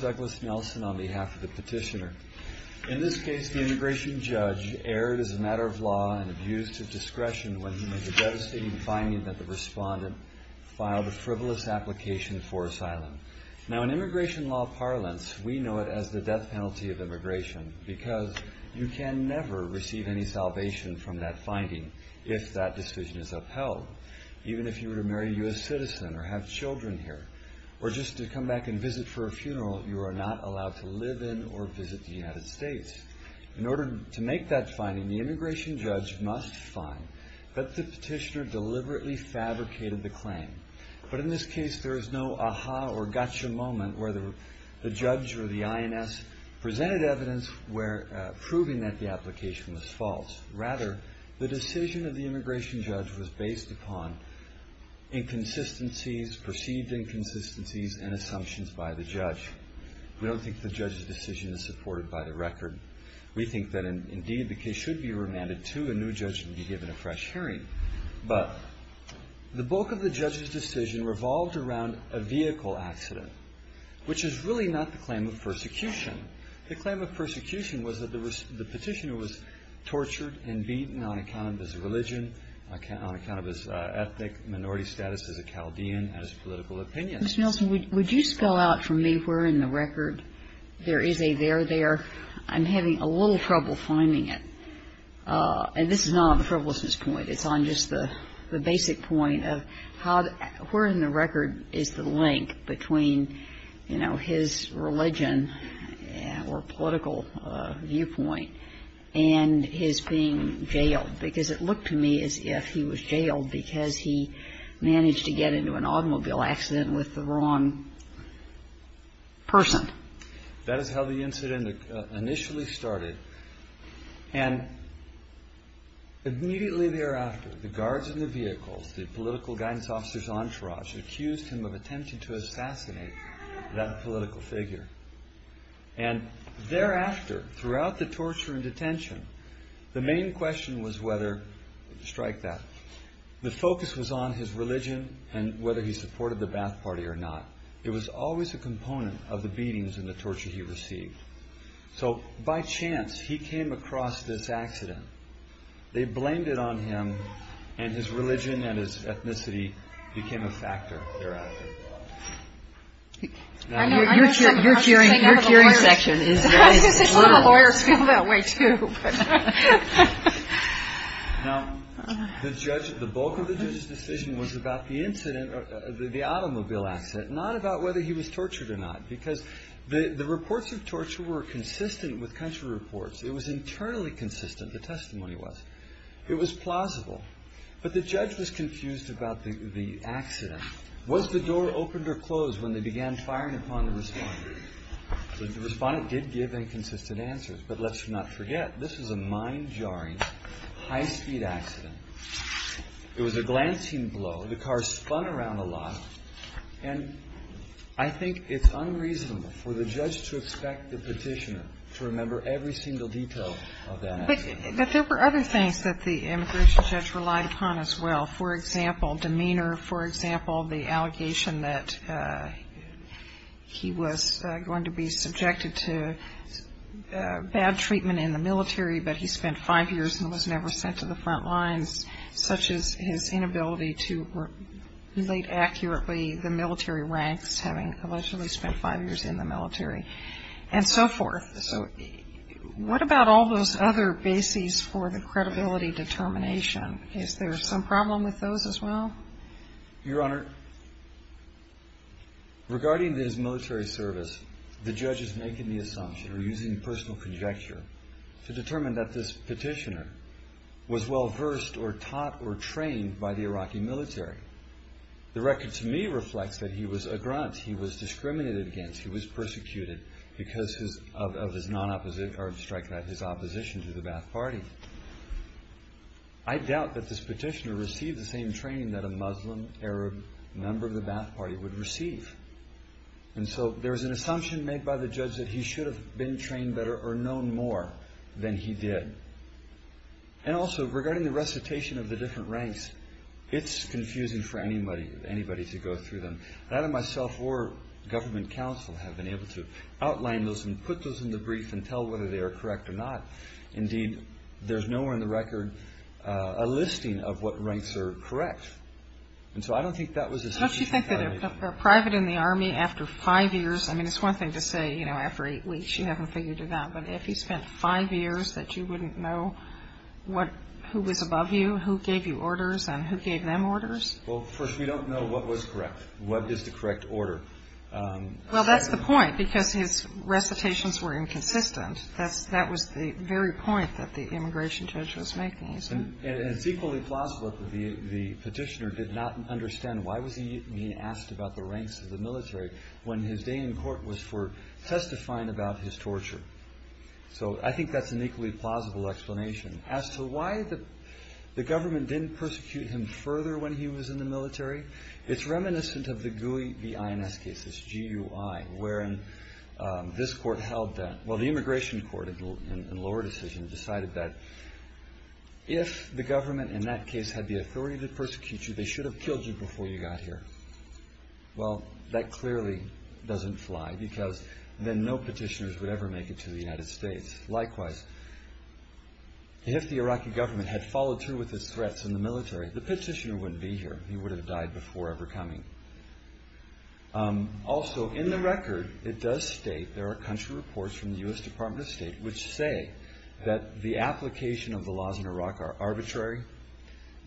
Douglas Nelson on behalf of the petitioner. In this case, the immigration judge erred as a matter of law and abused his discretion when he made the devastating finding that the respondent filed a frivolous application for asylum. In immigration law parlance, we know it as the death penalty of immigration because you can never receive any salvation from that finding if that decision is upheld. Even if you were to marry a U.S. citizen or have children here, or just to come back and visit for a funeral, you are not allowed to live in or visit the United States. In order to make that finding, the immigration judge must find that the petitioner deliberately fabricated the claim. But in this case, there was no aha or gotcha moment where the judge or the INS presented evidence proving that the application was false. Rather, the decision of the immigration judge was based upon inconsistencies, perceived inconsistencies, and assumptions by the judge. We don't think the judge's decision is supported by the record. We think that indeed the case should be remanded to a new judge and be given a fresh hearing. But the bulk of the judge's decision revolved around a vehicle accident, which is really not the claim of persecution. The claim of persecution was that the petitioner was tortured and beaten on account of his religion, on account of his ethnic minority status as a Chaldean and his political opinion. Ginsburg. Mr. Nelson, would you spell out for me where in the record there is a there, there? I'm having a little trouble finding it. And this is not on the frivolousness point. It's on just the basic point of how, where in the record is the link between, you know, his religion or political viewpoint and his being jailed? Because it looked to me as if he was jailed because he managed to get into an automobile accident with the wrong person. That is how the incident initially started. And immediately thereafter, the guards in the vehicles, the political guidance officer's entourage accused him of attempting to assassinate that political figure. And thereafter, throughout the torture and detention, the main question was whether, strike that, the focus was on his religion and whether he supported the beatings and the torture he received. So, by chance, he came across this accident. They blamed it on him, and his religion and his ethnicity became a factor thereafter. Now, your cheering, your cheering section is very brutal. I was going to say, some of the lawyers feel that way, too. Now, the judge, the bulk of the judge's decision was about the incident, the automobile accident, not about whether he was tortured or not. Because the reports of torture were consistent with country reports. It was internally consistent, the testimony was. It was plausible. But the judge was confused about the accident. Was the door opened or closed when they began firing upon the respondent? The respondent did give inconsistent answers. But let's not forget, this was a mind-jarring, high-speed accident. It was a glancing blow. The car spun around a lot. And I think it's unreasonable for the judge to expect the petitioner to remember every single detail of that accident. But there were other things that the immigration judge relied upon as well. For example, demeanor. For example, the allegation that he was going to be subjected to bad treatment in the military but he spent five years and was never sent to the front lines, such as his inability to relate accurately the military ranks, having allegedly spent five years in the military, and so forth. So what about all those other bases for the credibility determination? Is there some problem with those as well? Your Honor, regarding his military service, the judge is making the assumption or using personal conjecture to determine that this petitioner was well-versed or taught or trained by the Iraqi military. The record to me reflects that he was a grunt, he was discriminated against, he was persecuted because of his opposition to the Ba'ath Party. I doubt that this petitioner received the same training that a Muslim Arab member of the Ba'ath Party would receive. And so there is an assumption made by the judge that he should have been trained better or known more than he did. And also, regarding the recitation of the different ranks, it's confusing for anybody to go through them. Neither myself or government counsel have been able to outline those and put those in the brief and tell whether they are correct or not. Indeed, there's nowhere in the record a listing of what ranks are correct. And so I don't think that was a sufficient credibility determination. A private in the Army after five years, I mean, it's one thing to say, you know, after eight weeks, you haven't figured it out. But if he spent five years, that you wouldn't know what, who was above you, who gave you orders, and who gave them orders? Well, first, we don't know what was correct. What is the correct order? Well, that's the point, because his recitations were inconsistent. That was the very point that the immigration judge was making, isn't it? And it's equally plausible that the petitioner did not understand why was he being asked about the ranks of the military when his day in court was for testifying about his torture. So I think that's an equally plausible explanation. As to why the government didn't persecute him further when he was in the military, it's reminiscent of the GUI, the INS cases, G-U-I, wherein this court held that, well, the immigration court in the lower decision decided that if the government in that case had the authority to persecute you, they should have killed you before you got here. Well, that clearly doesn't fly, because then no petitioners would ever make it to the United States. Likewise, if the Iraqi government had followed through with its threats in the military, the petitioner wouldn't be here. He would have died before ever coming. Also in the record, it does state there are country reports from the U.S. Department of State which say that the application of the laws in Iraq are arbitrary,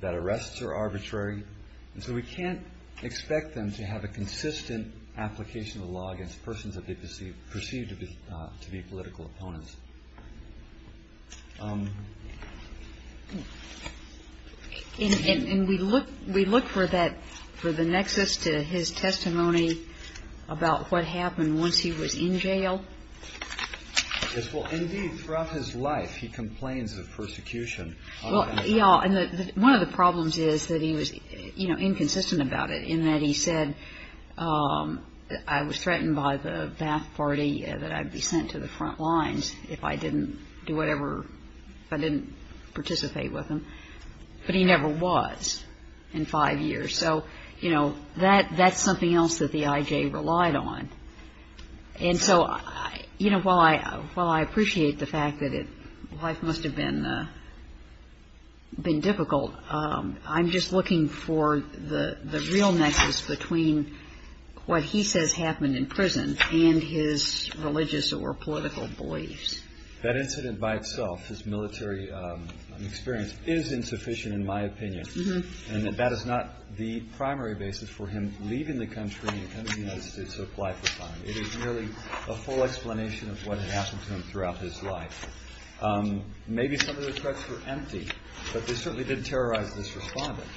that arrests are not allowed. So we can't expect them to have a consistent application of the law against persons that they perceive to be political opponents. And we look for that, for the nexus to his testimony about what happened once he was in jail? Yes. Well, indeed, throughout his life, he complains of persecution. Well, yes, and one of the problems is that he was, you know, inconsistent about it in that he said, I was threatened by the Ba'ath Party that I'd be sent to the front lines if I didn't do whatever, if I didn't participate with them. But he never was in five years. So, you know, that's something else that the I.J. relied on. And so, you know, while I appreciate the fact that life must have been difficult, I'm just looking for the real nexus between what he says happened in prison and his religious or political beliefs. That incident by itself, his military experience, is insufficient in my opinion. And that is not the primary basis for him leaving the country and coming to the United States to apply for asylum. It is merely a full explanation of what had happened to him throughout his life. Maybe some of the threats were empty, but they certainly didn't terrorize this respondent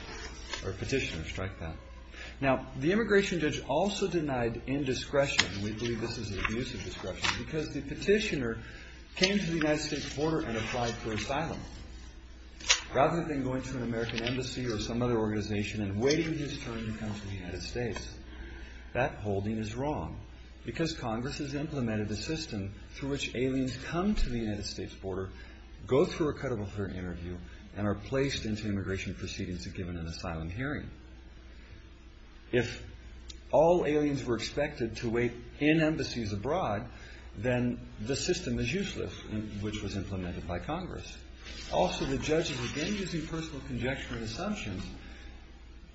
or petitioner, strike that. Now, the immigration judge also denied indiscretion, and we believe this is an abuse of discretion, because the petitioner came to the United States border and applied for asylum. Rather than going to an American embassy or some other organization and waiting his turn to come to the United States. That holding is wrong, because Congress has implemented a system through which aliens come to the United States border, go through a cut-off interview, and are placed into immigration proceedings and given an asylum hearing. If all aliens were expected to wait in embassies abroad, then the system is useless, which was implemented by Congress. Also, the judge is again using personal conjecture and assumptions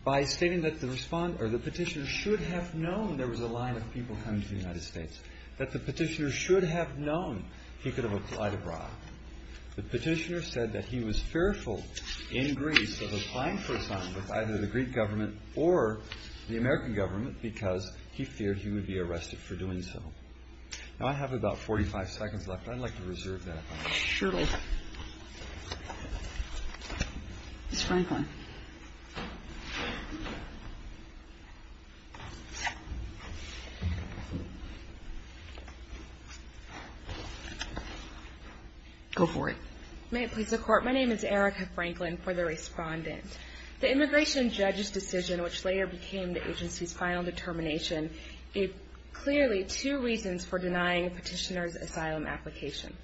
by stating that the petitioner should have known there was a line of people coming to the United States. That the petitioner should have known he could have applied abroad. The petitioner said that he was fearful in Greece of applying for asylum with either the Greek government or the American government, because he feared he would be arrested for sure. Ms. Franklin. Go for it. May it please the Court. My name is Erica Franklin, for the Respondent. The immigration judge's decision, which later became the agency's final determination, gave clearly two reasons for denying the petitioner's asylum application.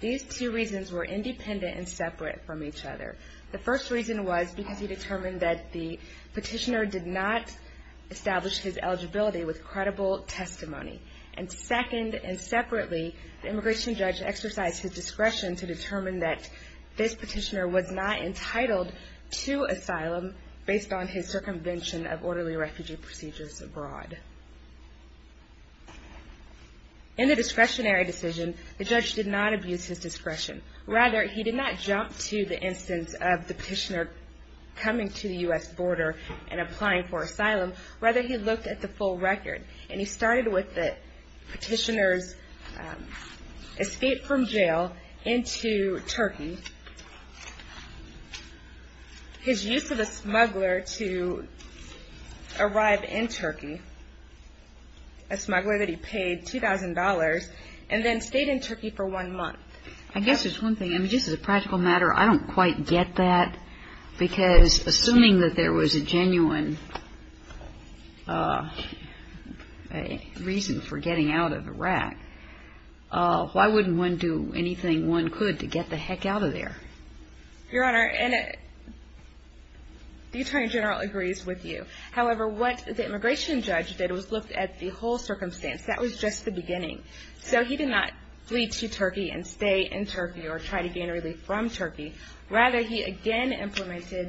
These two reasons were independent and separate from each other. The first reason was because he determined that the petitioner did not establish his eligibility with credible testimony. And second, and separately, the immigration judge exercised his discretion to determine that this petitioner was not entitled to asylum based on his circumvention of orderly refugee procedures abroad. In the discretionary decision, the judge did not abuse his discretion. Rather, he did not jump to the instance of the petitioner coming to the U.S. border and applying for asylum. Rather, he looked at the full record. And he started with the petitioner's escape from the U.S. border. And he asked the smuggler to arrive in Turkey, a smuggler that he paid $2,000, and then stayed in Turkey for one month. I guess there's one thing. I mean, just as a practical matter, I don't quite get that. Because assuming that there was a genuine reason for getting out of Iraq, why wouldn't one do anything one could to get the heck out of there? Your Honor, the Attorney General agrees with you. However, what the immigration judge did was look at the whole circumstance. That was just the beginning. So he did not flee to Turkey and stay in Turkey or try to gain relief from Turkey. Rather, he again employed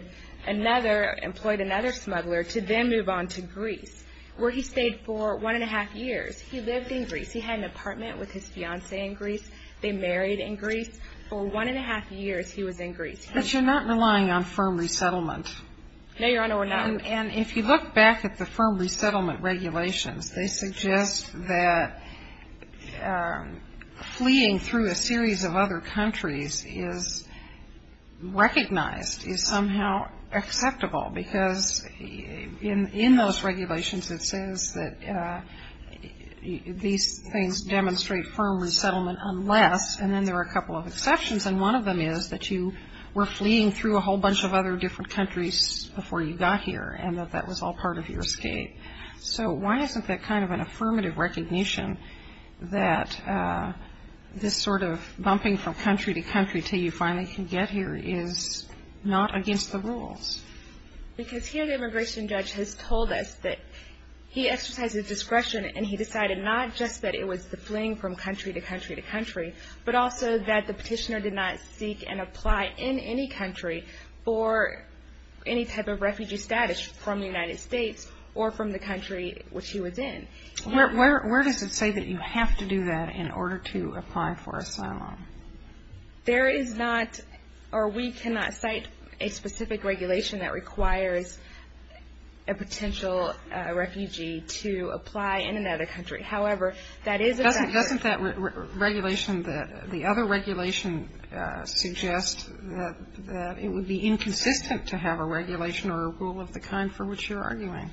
another smuggler to then move on to Greece, where he stayed for one and a half years. He lived in Greece. He had an apartment with his fiancée in Greece. They married in Greece for one and a half years. He was in Greece. But you're not relying on firm resettlement. No, Your Honor, we're not. And if you look back at the firm resettlement regulations, they suggest that fleeing through a series of other countries is recognized, is somehow acceptable. Because in those regulations, it says that these things demonstrate firm resettlement unless, and then there are a lot of them, is that you were fleeing through a whole bunch of other different countries before you got here and that that was all part of your escape. So why isn't that kind of an affirmative recognition that this sort of bumping from country to country until you finally can get here is not against the rules? Because here the immigration judge has told us that he exercised his discretion and he decided not just that it was the fleeing from country to country to country, but also that the petitioner did not seek and apply in any country for any type of refugee status from the United States or from the country which he was in. Where does it say that you have to do that in order to apply for asylum? There is not, or we cannot cite a specific regulation that requires a potential refugee to apply in another country. However, that is a factor. Doesn't that regulation, the other regulation, suggest that it would be inconsistent to have a regulation or a rule of the kind for which you're arguing?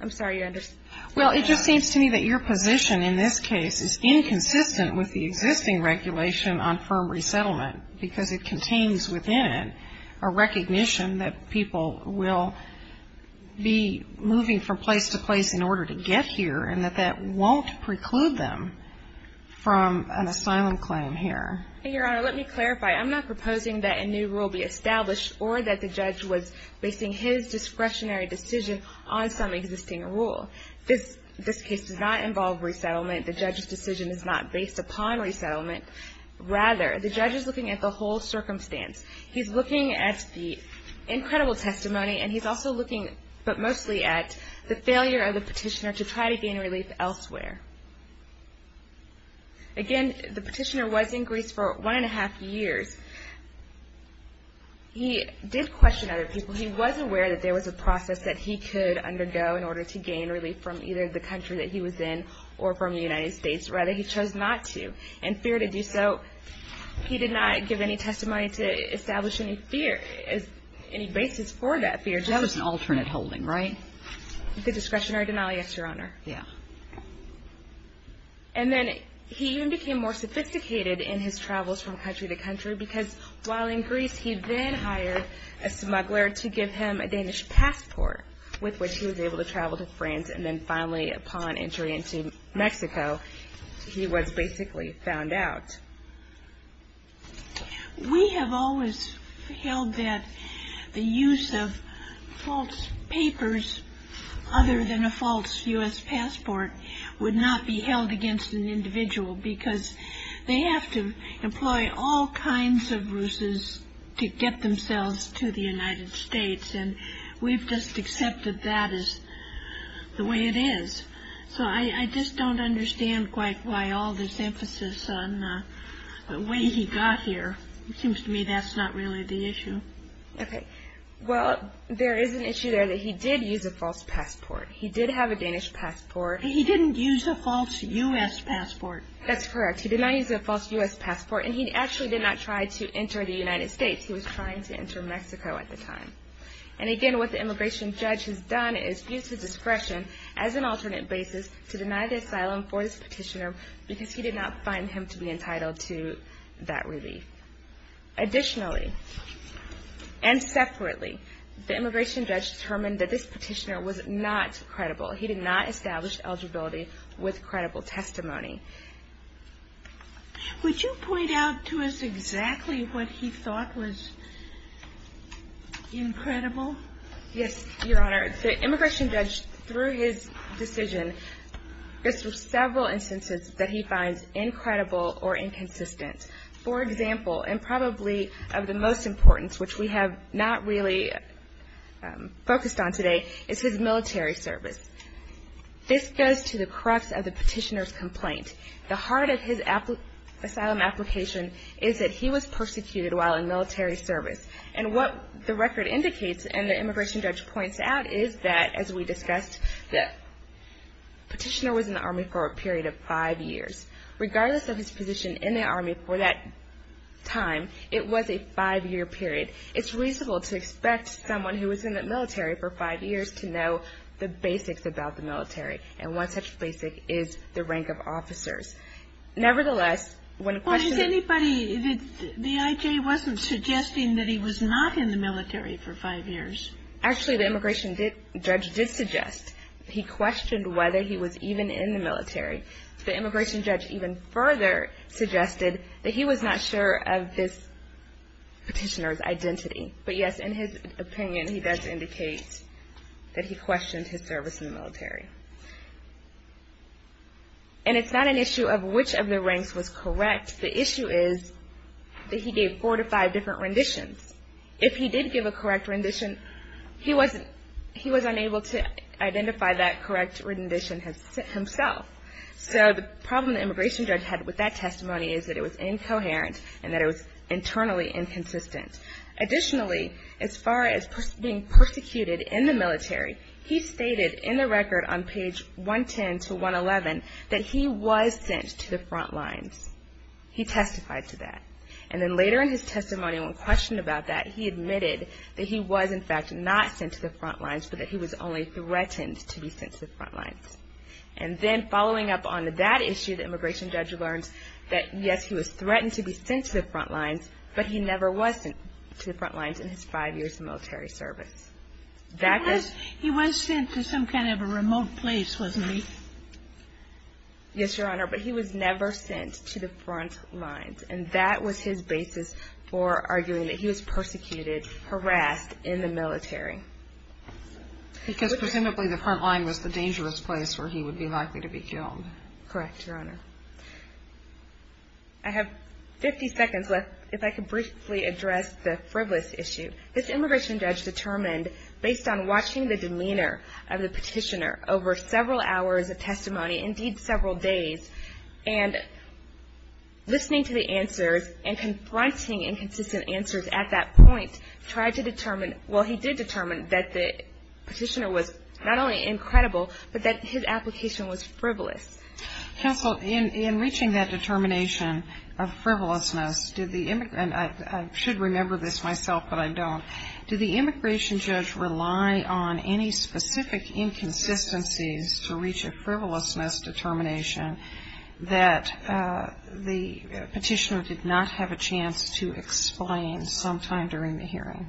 I'm sorry, you understand? Well, it just seems to me that your position in this case is inconsistent with the existing regulation on firm resettlement because it contains within it a recognition that people will be moving from place to place in order to get here and that that won't preclude them from an asylum claim here. Your Honor, let me clarify. I'm not proposing that a new rule be established or that the judge was basing his discretionary decision on some existing rule. This case does not involve resettlement. The judge's decision is not based upon resettlement. Rather, the judge is looking at the whole circumstance. He's looking at the incredible testimony and he's also looking, but mostly at, the failure of the petitioner to try to gain relief elsewhere. Again, the petitioner was in Greece for one and a half years. He did question other people. He was aware that there was a process that he could undergo in order to gain relief from either the country that he was in or from the United States. Rather, he chose not to. In fear to do so, he did not give any testimony to establish any fear, any basis for that fear. That was an alternate holding, right? The discretionary denial, yes, Your Honor. And then he even became more sophisticated in his travels from country to country because while in Greece he then hired a smuggler to give him a Danish passport with which he was able to travel to France and then finally upon entry into Mexico, he was basically found out. We have always held that the use of false papers other than a false U.S. passport would not be held against an individual because they have to employ all kinds of ruses to get themselves to the United States and we've just accepted that as the way it is. So I think the way he got here, it seems to me that's not really the issue. Okay. Well, there is an issue there that he did use a false passport. He did have a Danish passport. He didn't use a false U.S. passport. That's correct. He did not use a false U.S. passport and he actually did not try to enter the United States. He was trying to enter Mexico at the time. And again, what the immigration judge has done is use the discretion as an alternate basis to deny the asylum for this person to that relief. Additionally, and separately, the immigration judge determined that this petitioner was not credible. He did not establish eligibility with credible testimony. Would you point out to us exactly what he thought was incredible? Yes, Your Honor. The immigration judge, through his decision, there are several instances that he finds incredible or inconsistent. For example, and probably of the most importance, which we have not really focused on today, is his military service. This goes to the crux of the petitioner's complaint. The heart of his asylum application is that he was persecuted while in military service. And what the record indicates and the immigration judge points out is that, as we discussed, the petitioner was in the Army for a period of five years. Regardless of his position in the Army for that time, it was a five-year period. It's reasonable to expect someone who was in the military for five years to know the basics about the military. And one such basic is the rank of officers. Nevertheless, when a question... Well, is anybody... the I.J. wasn't suggesting that he was not in the military for five years. Actually, the immigration judge did suggest. He questioned whether he was even in the military. The immigration judge even further suggested that he was not sure of this petitioner's identity. But yes, in his opinion, he does indicate that he questioned his service in the military. And it's not an issue of which of the ranks was correct. The issue is that he gave four to five different renditions. If he did give a correct rendition, he wasn't... he was unable to identify that correct rendition himself. So the problem the immigration judge had with that testimony is that it was incoherent and that it was internally inconsistent. Additionally, as far as being persecuted in the military, he stated in the record on page 110 to 111 that he was sent to the front lines. He testified to that. And then later in his testimony, when questioned about that, he admitted that he was, in fact, not sent to the front lines, but that he was only threatened to be sent to the front lines. And then following up on that issue, the immigration judge learns that, yes, he was threatened to be sent to the front lines, but he never was sent to the front lines in his five years of military service. He was sent to some kind of a remote place, wasn't he? Yes, Your Honor, but he was never sent to the front lines. And that was his basis for arguing that he was persecuted, harassed in the military. Because presumably the front line was the dangerous place where he would be likely to be killed. Correct, Your Honor. I have 50 seconds left. If I could briefly address the frivolous issue. This immigration judge determined, based on watching the demeanor of the petitioner over several hours of testimony, indeed several days, and listening to the answers and confronting inconsistent answers at that point, tried to determine, well, he did determine that the petitioner was not only incredible, but that his application was frivolous. Counsel, in reaching that determination of frivolousness, did the immigrant, and I should remember this myself, but I don't, did the immigration judge rely on any specific inconsistencies to reach a frivolousness determination that the petitioner did not have a chance to explain sometime during the hearing?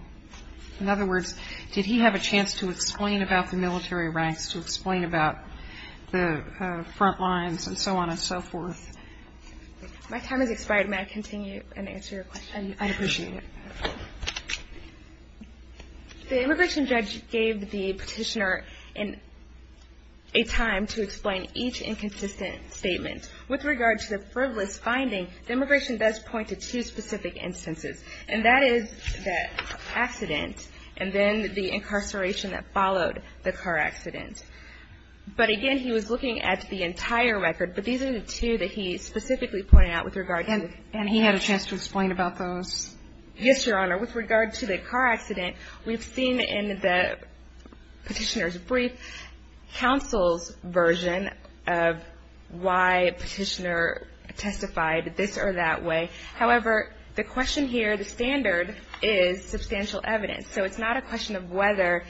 In other words, did he have a chance to explain about the military ranks, to explain about the front lines, and so on and so forth? My time has expired. May I continue and answer your question? I'd appreciate it. The immigration judge gave the petitioner a time to explain each inconsistent statement. With regard to the frivolous finding, the immigration does point to two specific instances, and that is the accident, and then the incarceration that followed the car accident. But again, he was looking at the entire record, but these are the two that he specifically pointed out with regard to the car accident. And he had a chance to explain about those? Yes, Your Honor. With regard to the car accident, we've seen in the petitioner's brief counsel's version of why a petitioner testified this or that way. However, the question here, the standard, is substantial evidence. So it's not a question of whether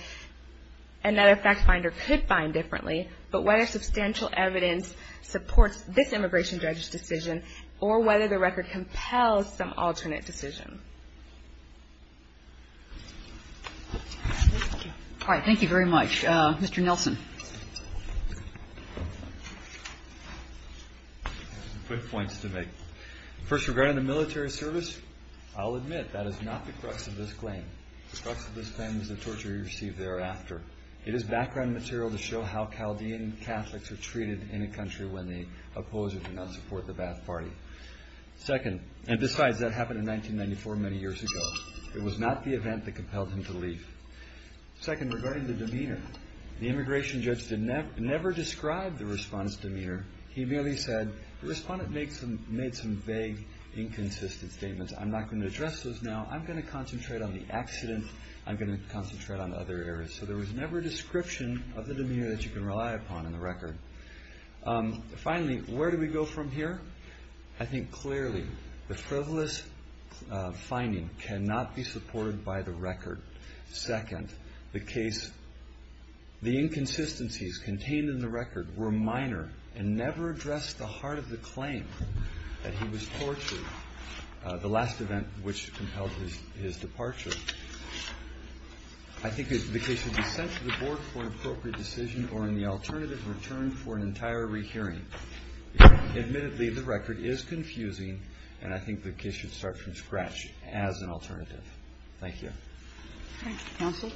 another fact finder could find differently, but whether substantial evidence supports this immigration judge's decision, or whether the record compels some alternate decision. Thank you very much. Mr. Nelson. I have some quick points to make. First, with regard to the military service, I'll admit that is not the crux of this claim. The crux of this claim is the torture he received thereafter. It is background material to show how Chaldean Catholics are treated in a country when the opposers do not support the Ba'ath Party. Second, and besides, that happened in 1994, many years ago. It was not the event that compelled him to leave. Second, regarding the demeanor, the immigration judge never described the respondent's demeanor. He merely said, the respondent made some vague, inconsistent statements. I'm not going to address those now. I'm going to concentrate on the accident. I'm going to concentrate on other areas. So there was never a description of the demeanor that you can rely upon in the record. Finally, where do we go from here? I think, clearly, the frivolous finding cannot be supported by the record. Second, the inconsistencies contained in the record were minor and never addressed the heart of the claim that he was tortured, the last event which compelled his departure. I think the case should be sent to the board for an appropriate decision or, in the alternative, returned for an entire rehearing. Admittedly, the record is confusing and I think the case should start from scratch as an alternative. Thank you. Counsel,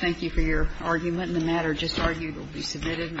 thank you for your argument. The matter just argued will be submitted and the Court will stand adjourned.